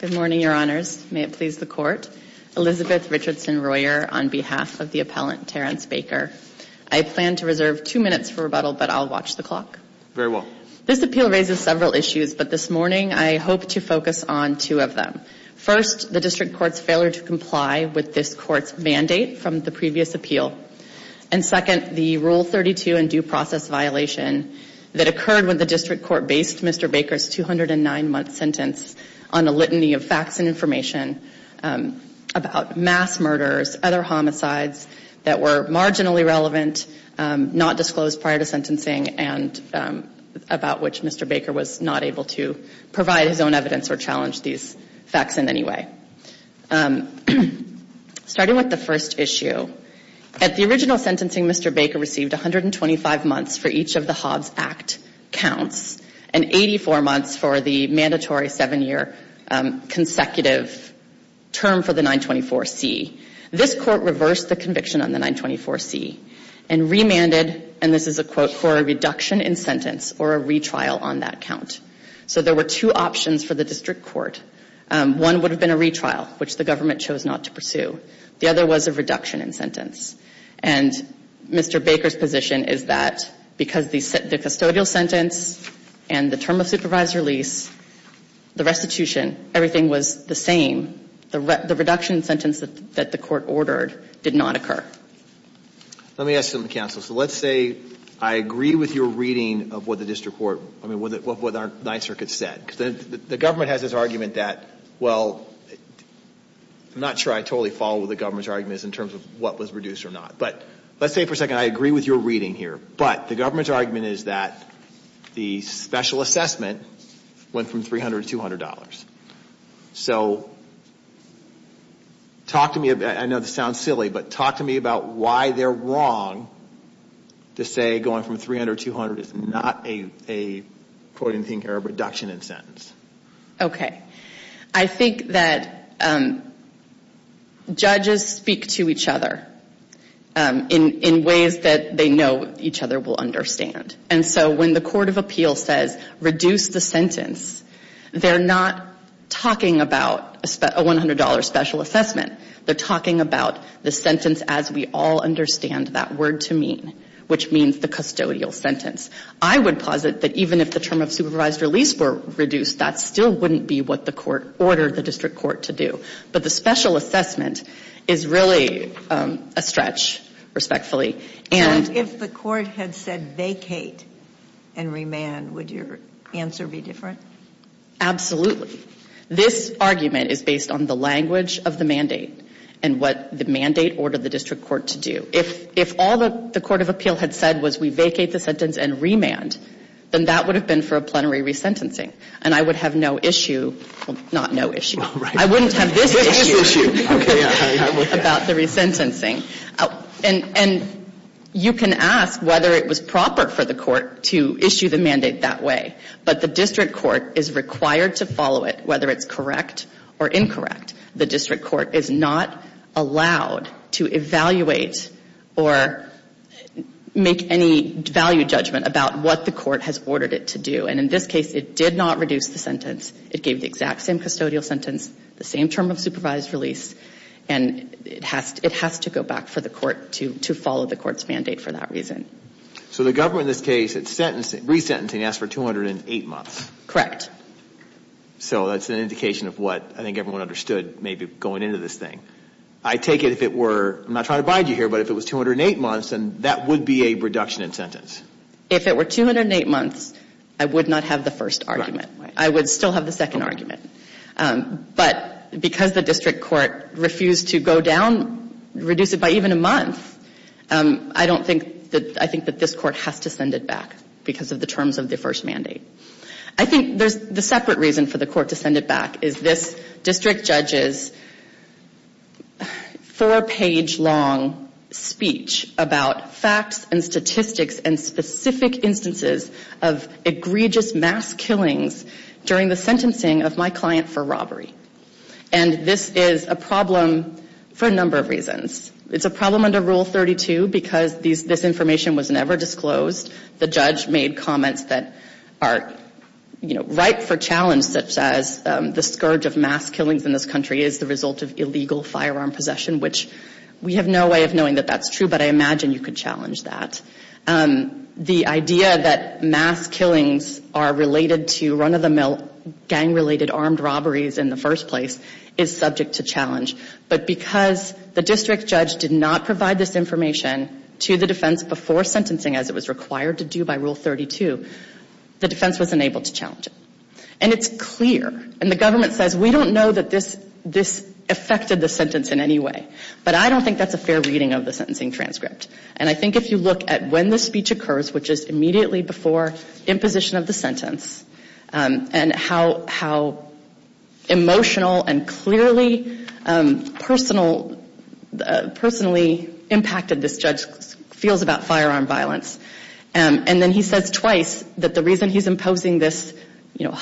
Good morning, your honors. May it please the court. Elizabeth Richardson Royer on behalf of the appellant, Terrence Baker. I plan to reserve two minutes for rebuttal, but I'll watch the clock. Very well. This appeal raises several issues, but this morning I hope to focus on two of them. First, the district court's failure to comply with this court's mandate from the previous appeal. And second, the Rule 32 and due process violation that occurred when the district court based Mr. Baker's 209-month sentence on a litany of facts and information about mass murders, other homicides that were marginally relevant, not disclosed prior to sentencing, and about which Mr. Baker was not able to provide his own evidence or challenge these facts in any way. Starting with the first issue, at the original sentencing, Mr. Baker received 125 months for each of the Hobbs Act counts and 84 months for the mandatory seven-year consecutive term for the 924C. This court reversed the conviction on the 924C and remanded, and this is a quote, for a reduction in sentence or a retrial on that count. So there were two options for the district court. One would have been a retrial, which the government chose not to pursue. The other was a reduction in sentence. And Mr. Baker's position is that because the custodial sentence and the term of supervisor lease, the restitution, everything was the same, the reduction in sentence that the court ordered did not occur. Let me ask something, counsel. So let's say I agree with your reading of what the district court, I mean, what the Ninth Circuit said. The government has this argument that, well, I'm not sure I totally follow what the government's argument is in terms of what was reduced or not. But let's say for a second, I agree with your reading here, but the government's argument is that the special assessment went from $300 to $200. So talk to me, I know this sounds crazy, about why they're wrong to say going from $300 to $200 is not a reduction in sentence. Okay. I think that judges speak to each other in ways that they know each other will understand. And so when the court of appeals says reduce the sentence, they're not talking about a $100 special assessment. They're talking about the sentence as we all understand that word to mean, which means the custodial sentence. I would posit that even if the term of supervised release were reduced, that still wouldn't be what the court ordered the district court to do. But the special assessment is really a stretch, respectfully. And And if the court had said vacate and remand, would your answer be different? Absolutely. This argument is based on the language of the mandate and what the mandate ordered the district court to do. If all that the court of appeal had said was we vacate the sentence and remand, then that would have been for a plenary resentencing. And I would have no issue, well, not no issue. I wouldn't have this issue about the resentencing. And you can ask whether it was proper for the court to issue the mandate that way. But the district court is required to follow it, whether it's correct or incorrect. The district court is not allowed to evaluate or make any value judgment about what the court has ordered it to do. And in this case, it did not reduce the sentence. It gave the exact same custodial sentence, the same term of supervised release. And it has to go back for the court to follow the court's mandate for that reason. So the government in this case, at resentencing, asked for 208 months. Correct. So that's an indication of what I think everyone understood maybe going into this thing. I take it if it were, I'm not trying to bide you here, but if it was 208 months, then that would be a reduction in sentence. If it were 208 months, I would not have the first argument. I would still have the second argument. But because the district court refused to go down, reduce it by even a month, I don't think that, I think that this court has to send it back because of the terms of the first mandate. I think there's a separate reason for the court to send it back, is this district judge's four-page long speech about facts and statistics and specific instances of egregious mass killings during the sentencing of my client for robbery. And this is a problem for a number of reasons. It's a problem under Rule 32 because this information was never disclosed. The judge made comments that are, you know, ripe for challenge, such as the scourge of mass killings in this country is the result of illegal firearm possession, which we have no way of knowing that that's true, but I imagine you could challenge that. The idea that mass killings are related to run-of-the-mill gang-related armed robberies in the first place is subject to challenge. But because the district judge did not provide this information to the defense before sentencing as it was required to do by Rule 32, the defense was unable to challenge it. And it's clear, and the government says, we don't know that this affected the sentence in any way. But I don't think that's a fair reading of the sentencing transcript. And I think if you look at when the speech occurs, which is immediately before imposition of the sentence, and how emotional and clearly personal, personally impacted this judge feels about firearm violence, and then he says twice that the reason he's imposing this, you know,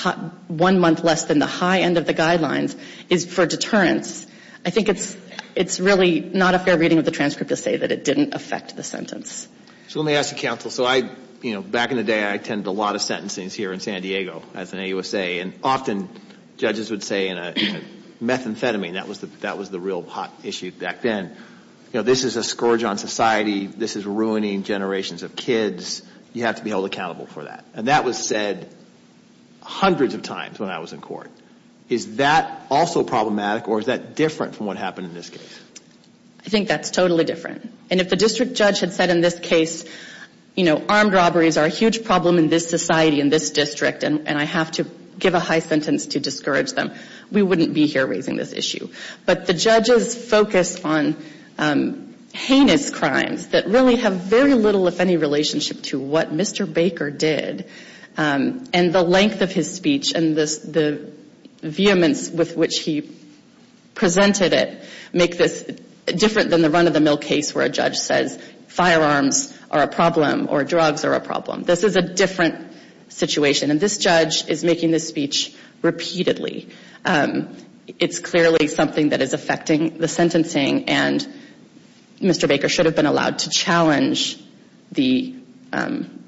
one month less than the high end of the guidelines is for deterrence, I think it's really not a fair reading of the transcript to say that it didn't affect the sentence. So let me ask you, counsel, so I, you know, back in the day I attended a lot of sentencing here in San Diego as an AUSA, and often judges would say in a methamphetamine, that was the real hot issue back then, you know, this is a scourge on society, this is ruining generations of kids, you have to be held accountable for that. And that was said hundreds of times when I was in court. Is that also problematic, or is that different from what happened in this case? I think that's totally different. And if the district judge had said in this case, you know, armed robberies are a huge problem in this society, in this district, and I have to give a high sentence to discourage them, we wouldn't be here raising this issue. But the judge's focus on heinous crimes that really have very little, if any, relationship to what Mr. Baker did, and the length of his speech, and the vehemence with which he presented it, make this different than the run of the mill case where a judge says firearms are a problem, or drugs are a problem. This is a different situation. And this judge is making this speech repeatedly. It's clearly something that is affecting the sentencing, and Mr. Baker should have been allowed to challenge the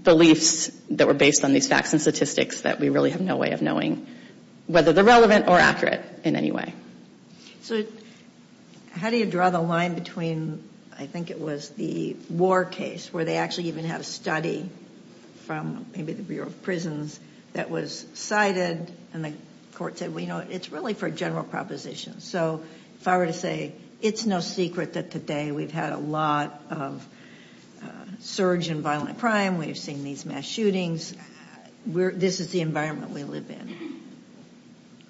beliefs that were based on these facts and statistics that we really have no way of knowing whether they're relevant or accurate in any way. So how do you draw the line between, I think it was the war case, where they actually even had a study from maybe the Bureau of Prisons that was cited, and the court said, well, you know, it's really for a general proposition. So if I were to say, it's no secret that today we've had a lot of surge in violent crime, we've seen these mass shootings, this is the environment we live in.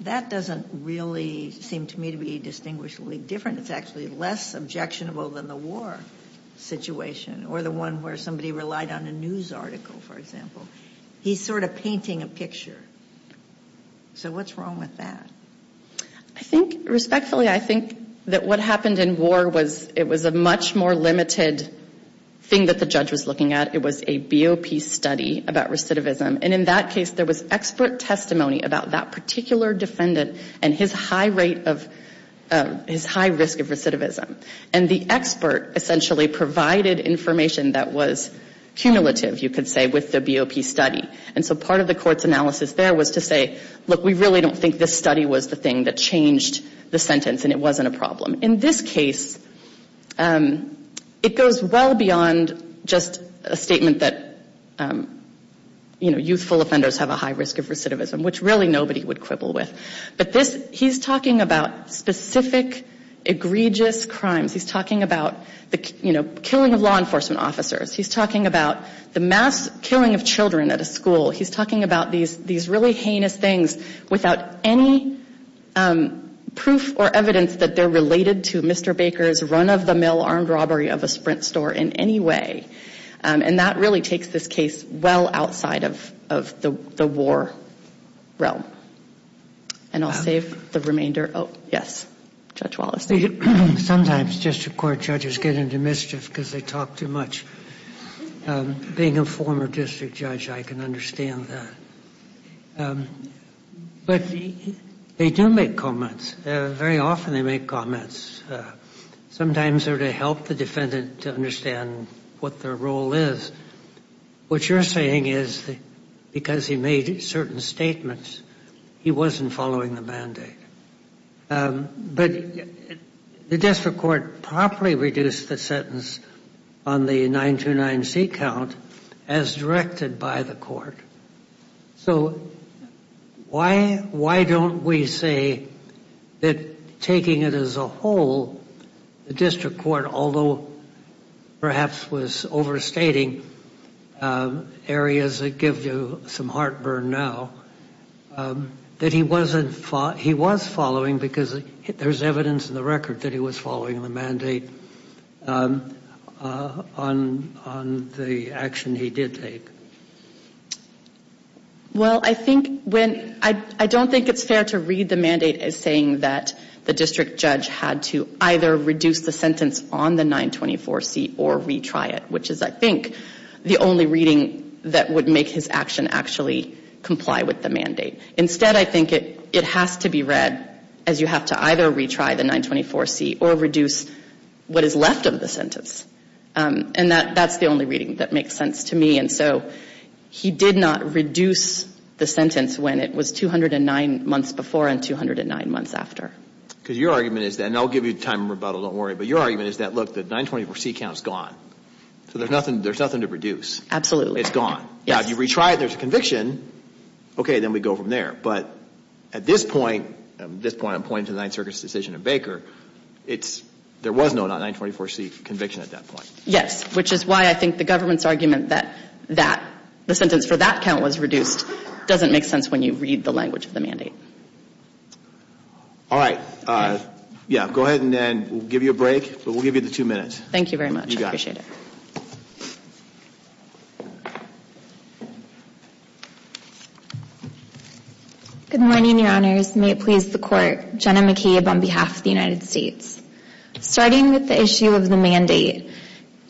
That doesn't really seem to me to be distinguishably different. It's actually less objectionable than the war situation, or the one where somebody relied on a news article, for example. He's sort of painting a picture. So what's wrong with that? I think, respectfully, I think that what happened in war was, it was a much more limited thing that the judge was looking at. It was a BOP study about recidivism. And in that case, there was expert testimony about that particular defendant and his high rate of, his high risk of recidivism. And the expert essentially provided information that was cumulative, you could say, with the BOP study. And so part of the court's analysis there was to say, look, we really don't think this study was the thing that changed the sentence, and it wasn't a problem. In this case, it goes well beyond just a statement that, you know, youthful offenders have a high risk of recidivism, which really nobody would quibble with. But this, he's talking about specific, egregious crimes. He's talking about the, you know, killing of law enforcement officers. He's talking about the mass killing of children at a school. He's talking about these, these really heinous things without any proof or evidence that they're related to Mr. Baker's run-of-the-mill armed robbery of a Sprint store in any way. And that really takes this case well outside of, of the war realm. And I'll save the remainder. Oh, yes. Judge Wallace. Sometimes district court judges get into mischief because they talk too much. Being a former district judge, I can understand that. But they do make comments. Very often they make comments. Sometimes they're to help the defendant to understand what their role is. What you're saying is because he made certain statements, he wasn't following the mandate. But the district court promptly reduced the sentence on the 929C count as directed by the court. So why, why don't we say that taking it as a whole, the district court, although perhaps was overstating areas that give you some heartburn now, that he wasn't, he was following because there's evidence in the record that he was following the mandate on, on the action he did take? Well, I think when, I don't think it's fair to read the mandate as saying that the district judge had to either reduce the sentence on the 924C or retry it, which is, I think, the only reading that would make his action actually comply with the mandate. Instead, I think it has to be read as you have to either retry the 924C or reduce what is left of the sentence. And that, that's the only reading that makes sense to me. And so he did not reduce the sentence when it was 209 months before and 209 months after. Because your argument is that, and I'll give you time to rebuttal, don't worry, but your argument is that, look, the 924C count's gone. So there's nothing, there's nothing to reduce. Absolutely. It's gone. Now, if you retry it and there's a conviction, okay, then we go from there. But at this point, at this point I'm pointing to the Ninth Circuit's decision in Baker, it's, there was no 924C conviction at that point. Yes, which is why I think the government's argument that, that, the sentence for that count was reduced doesn't make sense when you read the language of the mandate. All right. Yeah, go ahead and then we'll give you a break, but we'll give you the two minutes. Thank you very much. You got it. I appreciate it. Good morning, Your Honors. May it please the Court. Jenna McCabe on behalf of the United States. Starting with the issue of the mandate,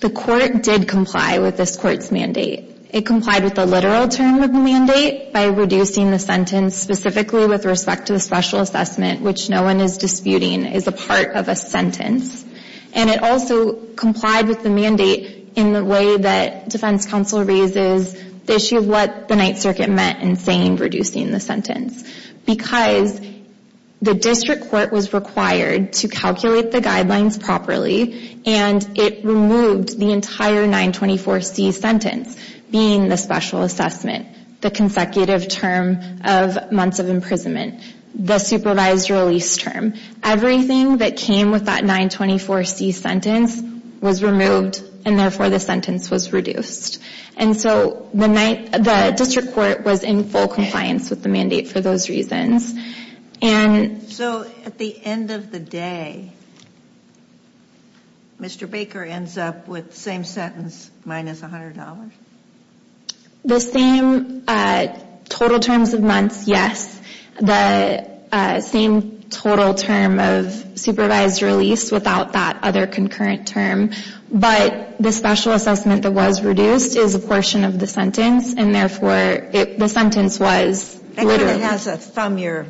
the Court did comply with this Court's mandate. It complied with the literal term of the mandate by reducing the sentence specifically with respect to the special assessment, which no one is disputing is a part of a sentence. And it also complied with the mandate in the way that Defense Counsel raises the issue of what the Ninth Circuit meant in saying reducing the sentence. Because the District Court was required to calculate the guidelines properly and it removed the entire 924C sentence being the special assessment, the consecutive term of months of imprisonment, the supervised release term. Everything that came with that 924C sentence was removed and therefore the sentence was reduced. And so the District Court was in full compliance with the mandate for those reasons. So at the end of the day, Mr. Baker ends up with the same sentence minus $100? The same total terms of months, yes. The same total term of supervised release without that other concurrent term. But the special assessment that was reduced is a portion of the sentence and therefore the sentence was... It kind of has a thumb your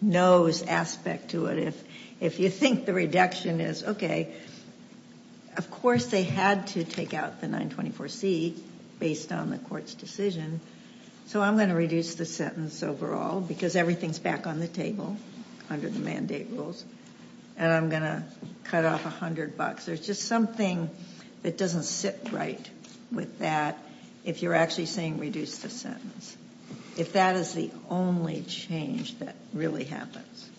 nose aspect to it. If you think the reduction is, okay, of course they had to take out the 924C based on the court's decision. So I'm going to reduce the sentence overall because everything's back on the table under the mandate rules. And I'm going to cut off $100. There's just something that doesn't sit right with that if you're actually saying reduce the sentence. If that is the only change that really happens.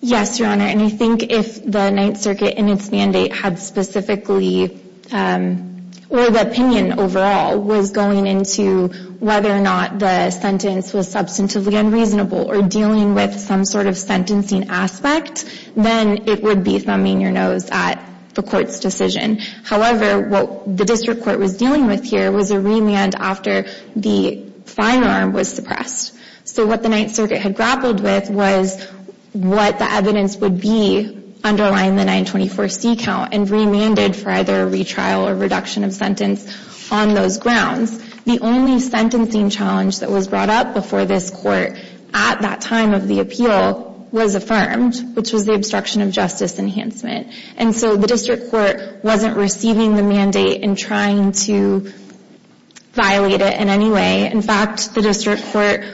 Yes, Your Honor. And I think if the Ninth Circuit and its mandate had specifically, or the opinion overall, was going into whether or not the sentence was substantively unreasonable or dealing with some sort of sentencing aspect, then it would be thumbing your nose at the court's decision. However, what the District Court was dealing with here was a remand after the firearm was suppressed. So what the Ninth Circuit had grappled with was what the evidence would be underlying the 924C count and remanded for either a retrial or reduction of sentence on those grounds. The only sentencing challenge that was brought up before this court at that time of the appeal was affirmed, which was the obstruction of justice enhancement. And so the District Court wasn't receiving the mandate and trying to violate it in any way. In fact, the District Court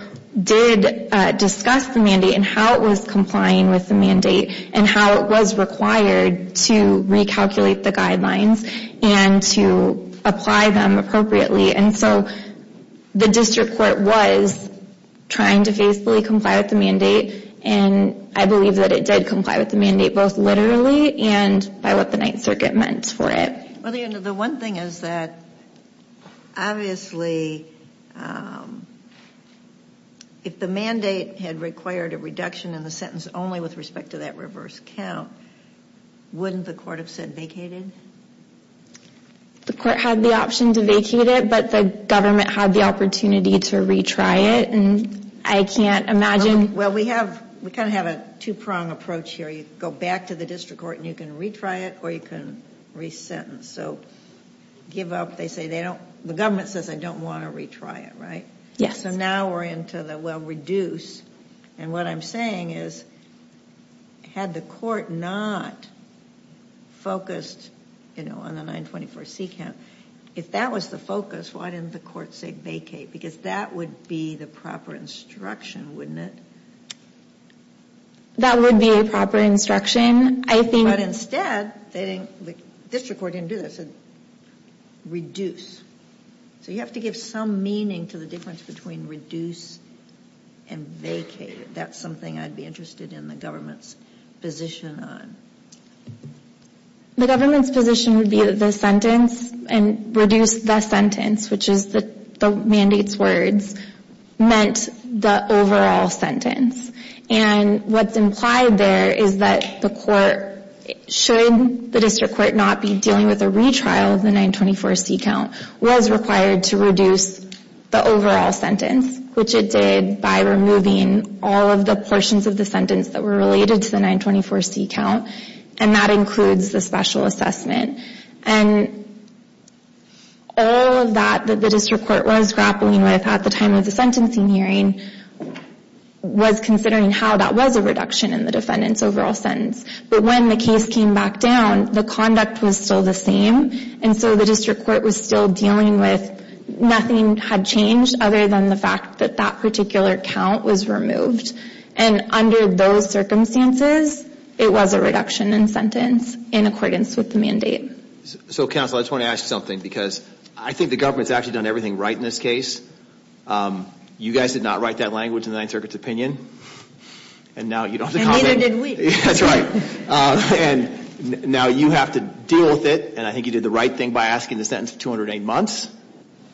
did discuss the mandate and how it was complying with the mandate and how it was required to recalculate the guidelines and to apply them appropriately. And so the District Court was trying to faithfully comply with the mandate and I believe that it did comply with the mandate both literally and by what the Ninth Circuit meant for it. Well, the one thing is that obviously if the mandate had required a reduction in the sentence only with respect to that reverse count, wouldn't the court have said vacated? The court had the option to vacate it, but the government had the opportunity to retry it. Well, we kind of have a two-pronged approach here. You go back to the District Court and you can retry it or you can re-sentence. So give up, they say. The government says they don't want to retry it, right? So now we're into the, well, reduce. And what I'm saying is had the court not focused on the 924C count, if that was the focus, why didn't the court say vacate? Because that would be the proper instruction, wouldn't it? That would be a proper instruction. But instead, the District Court didn't do that. It said reduce. So you have to give some meaning to the difference between reduce and vacate. That's something I'd be interested in the government's position on. The government's position would be that the sentence and reduce the sentence, which is the mandate's words, meant the overall sentence. And what's implied there is that the court, should the District Court not be dealing with a retrial of the 924C count, was required to reduce the overall sentence, which it did by removing all of the portions of the sentence that were related to the 924C count. And that includes the special assessment. And all of that, that the District Court was grappling with at the time of the sentencing hearing, was considering how that was a reduction in the defendant's overall sentence. But when the case came back down, the conduct was still the same. And so the District Court was still dealing with nothing had changed other than the fact that that particular count was removed. And under those circumstances, it was a reduction in sentence in accordance with the mandate. So Counsel, I just want to ask you something, because I think the government's actually done everything right in this case. You guys did not write that language in the Ninth Circuit's opinion. And now you don't have to comment. That's right. And now you have to deal with it. And I think you did the right thing by asking the sentence of 208 months.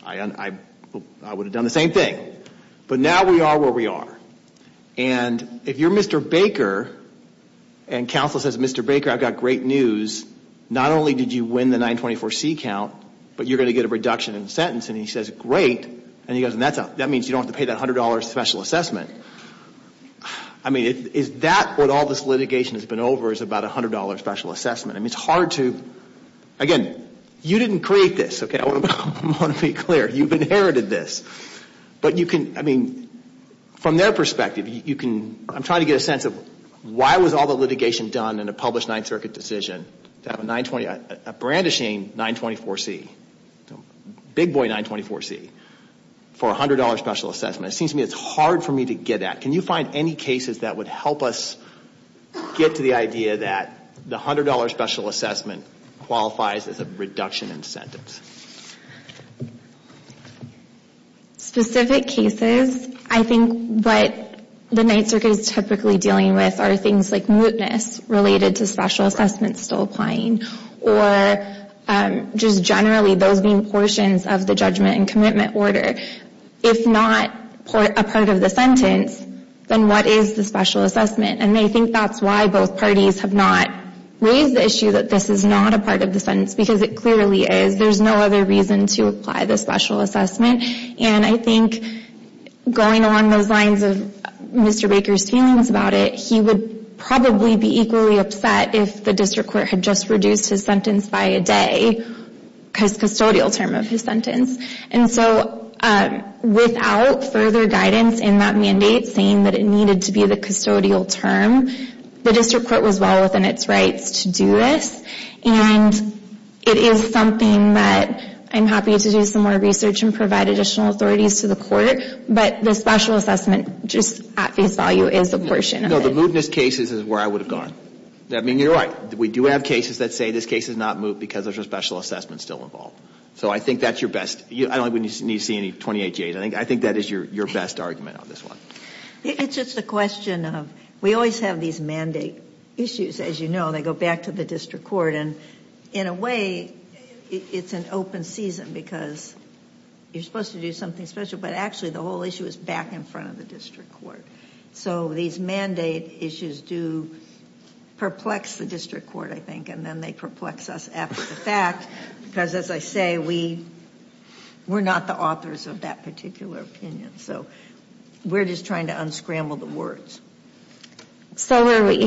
I would have done the same thing. But now we are where we are. And if you're Mr. Baker, and Counsel says, Mr. Baker, I've got great news. Not only did you win the 924C count, but you're going to get a reduction in sentence. And he says, great. And that means you don't have to pay that $100 special assessment. Is that what all this litigation has been over is about a $100 special assessment? Again, you didn't create this. I want to be clear. You've inherited this. From their perspective, I'm trying to get a sense of why was all the litigation done in a published Ninth Circuit decision to have a brandishing 924C, big boy 924C, for a $100 special assessment. It seems to me it's hard for me to get at. Can you find any cases that would help us get to the idea that the $100 special assessment qualifies as a reduction in sentence? Specific cases, I think what the Ninth Circuit is typically dealing with are things like mootness related to special assessments still applying, or just generally those being portions of the judgment and commitment order. If not a part of the sentence, then what is the special assessment? And I think that's why both parties have not raised the issue that this is not a part of the sentence, because it clearly is. There's no other reason to apply the special assessment. And I think going along those lines of Mr. Baker's feelings about it, he would probably be equally upset if the district court had just reduced his sentence by a day, his custodial term of his sentence. And so without further guidance in that mandate saying that it needed to be the custodial term, the district court was well within its rights to do this. And it is something that I'm happy to do some more research and provide additional authorities to the court, but the special assessment just at face value is a portion of it. No, the mootness case is where I would have gone. I mean, you're right. We do have cases that say this case is not moot because there's a special assessment still involved. So I think that's your best, I don't think we need to see any 28-Js. I think that is your best argument on this one. It's just a question of, we always have these mandate issues, as you know, they go back to the district court. And in a way, it's an open season because you're supposed to do something special, but actually the whole issue is back in front of the district court. So these mandate issues do perplex the district court, I think, and then they perplex us after the fact, because as I say, we're not the authors of that particular opinion. So we're just trying to unscramble the words. I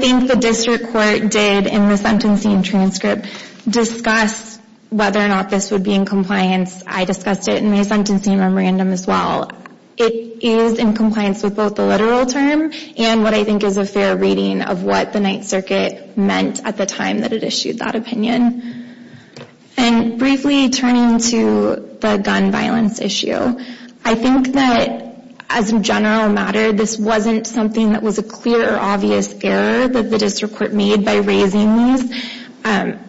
think the district court did, in the sentencing transcript, discuss whether or not this would be in compliance. I discussed it in my sentencing memorandum as well. It is in compliance with both the literal term and what I think is a fair reading of what the Ninth Circuit meant at the time that it issued that opinion. And briefly turning to the gun violence issue, I think that as a general matter, this wasn't something that was a clear or obvious error that the district court made by raising these.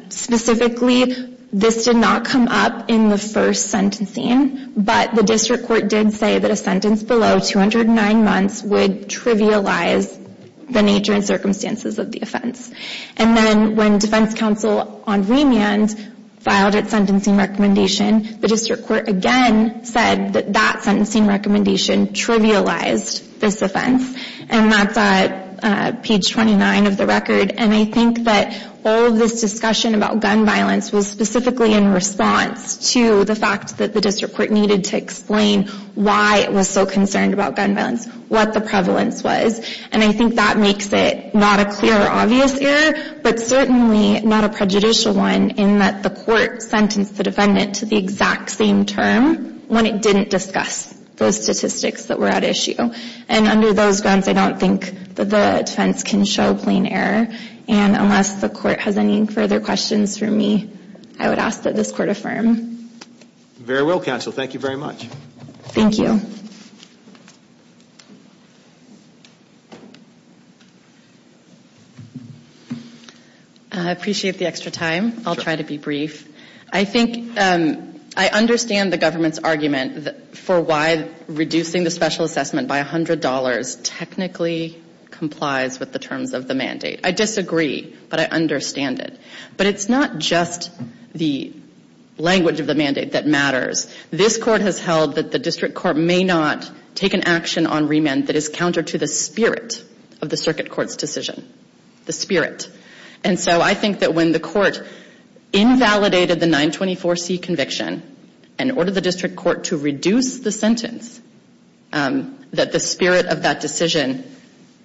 Specifically, this did not come up in the first sentencing, but the district court did say that a sentence below 209 months would trivialize the nature and circumstances of the offense. And then when defense counsel on remand filed its sentencing recommendation, the district court again said that that sentencing recommendation trivialized this offense. And that's at page 29 of the record. And I think that all of this discussion about gun violence was specifically in response to the fact that the district court needed to explain why it was so concerned about gun violence, what the prevalence was. And I think that makes it not a clear or obvious error, but certainly not a prejudicial one, in that the court sentenced the defendant to the exact same term when it didn't discuss those statistics that were at issue. And under those grounds, I don't think that the defense can show plain error. And unless the court has any further questions for me, I would ask that this court affirm. Very well, counsel. Thank you very much. I appreciate the extra time. I'll try to be brief. I think I understand the government's argument for why reducing the special assessment by $100 technically complies with the terms of the mandate. I disagree, but I understand it. But it's not just the language of the mandate that matters. This court has held that the district court may not take an action on remand that is counter to the spirit of the circuit court's decision. And so I think that when the court invalidated the 924C conviction and ordered the district court to reduce the sentence, that the spirit of that decision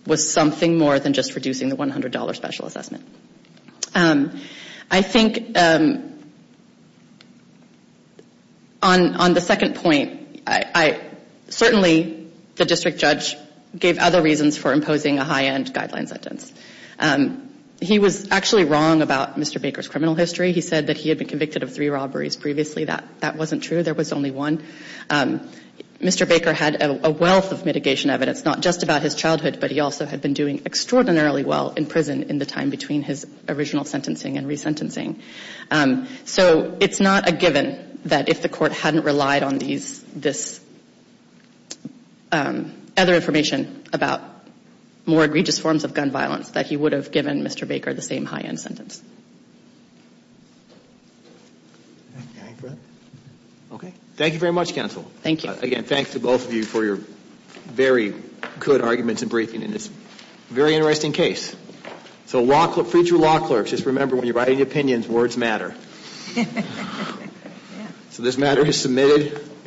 was something more than just reducing the $100 special assessment. I think on the second point, certainly the district judge gave other reasons for imposing a high-end guideline sentence. He was actually wrong about Mr. Baker's criminal history. He said that he had been convicted of three robberies previously. That wasn't true. There was only one. Mr. Baker had a wealth of mitigation evidence, not just about his childhood, but he also had been doing extraordinarily well in prison in the time between his original sentencing and resentencing. So it's not a given that if the court hadn't relied on this other information about more egregious forms of gun violence, that he would have given Mr. Baker the same high-end sentence. Thank you very much, counsel. Again, thanks to both of you for your very good arguments and briefing in this very interesting case. So law clerks, just remember when you're writing opinions, words matter. So this matter is submitted.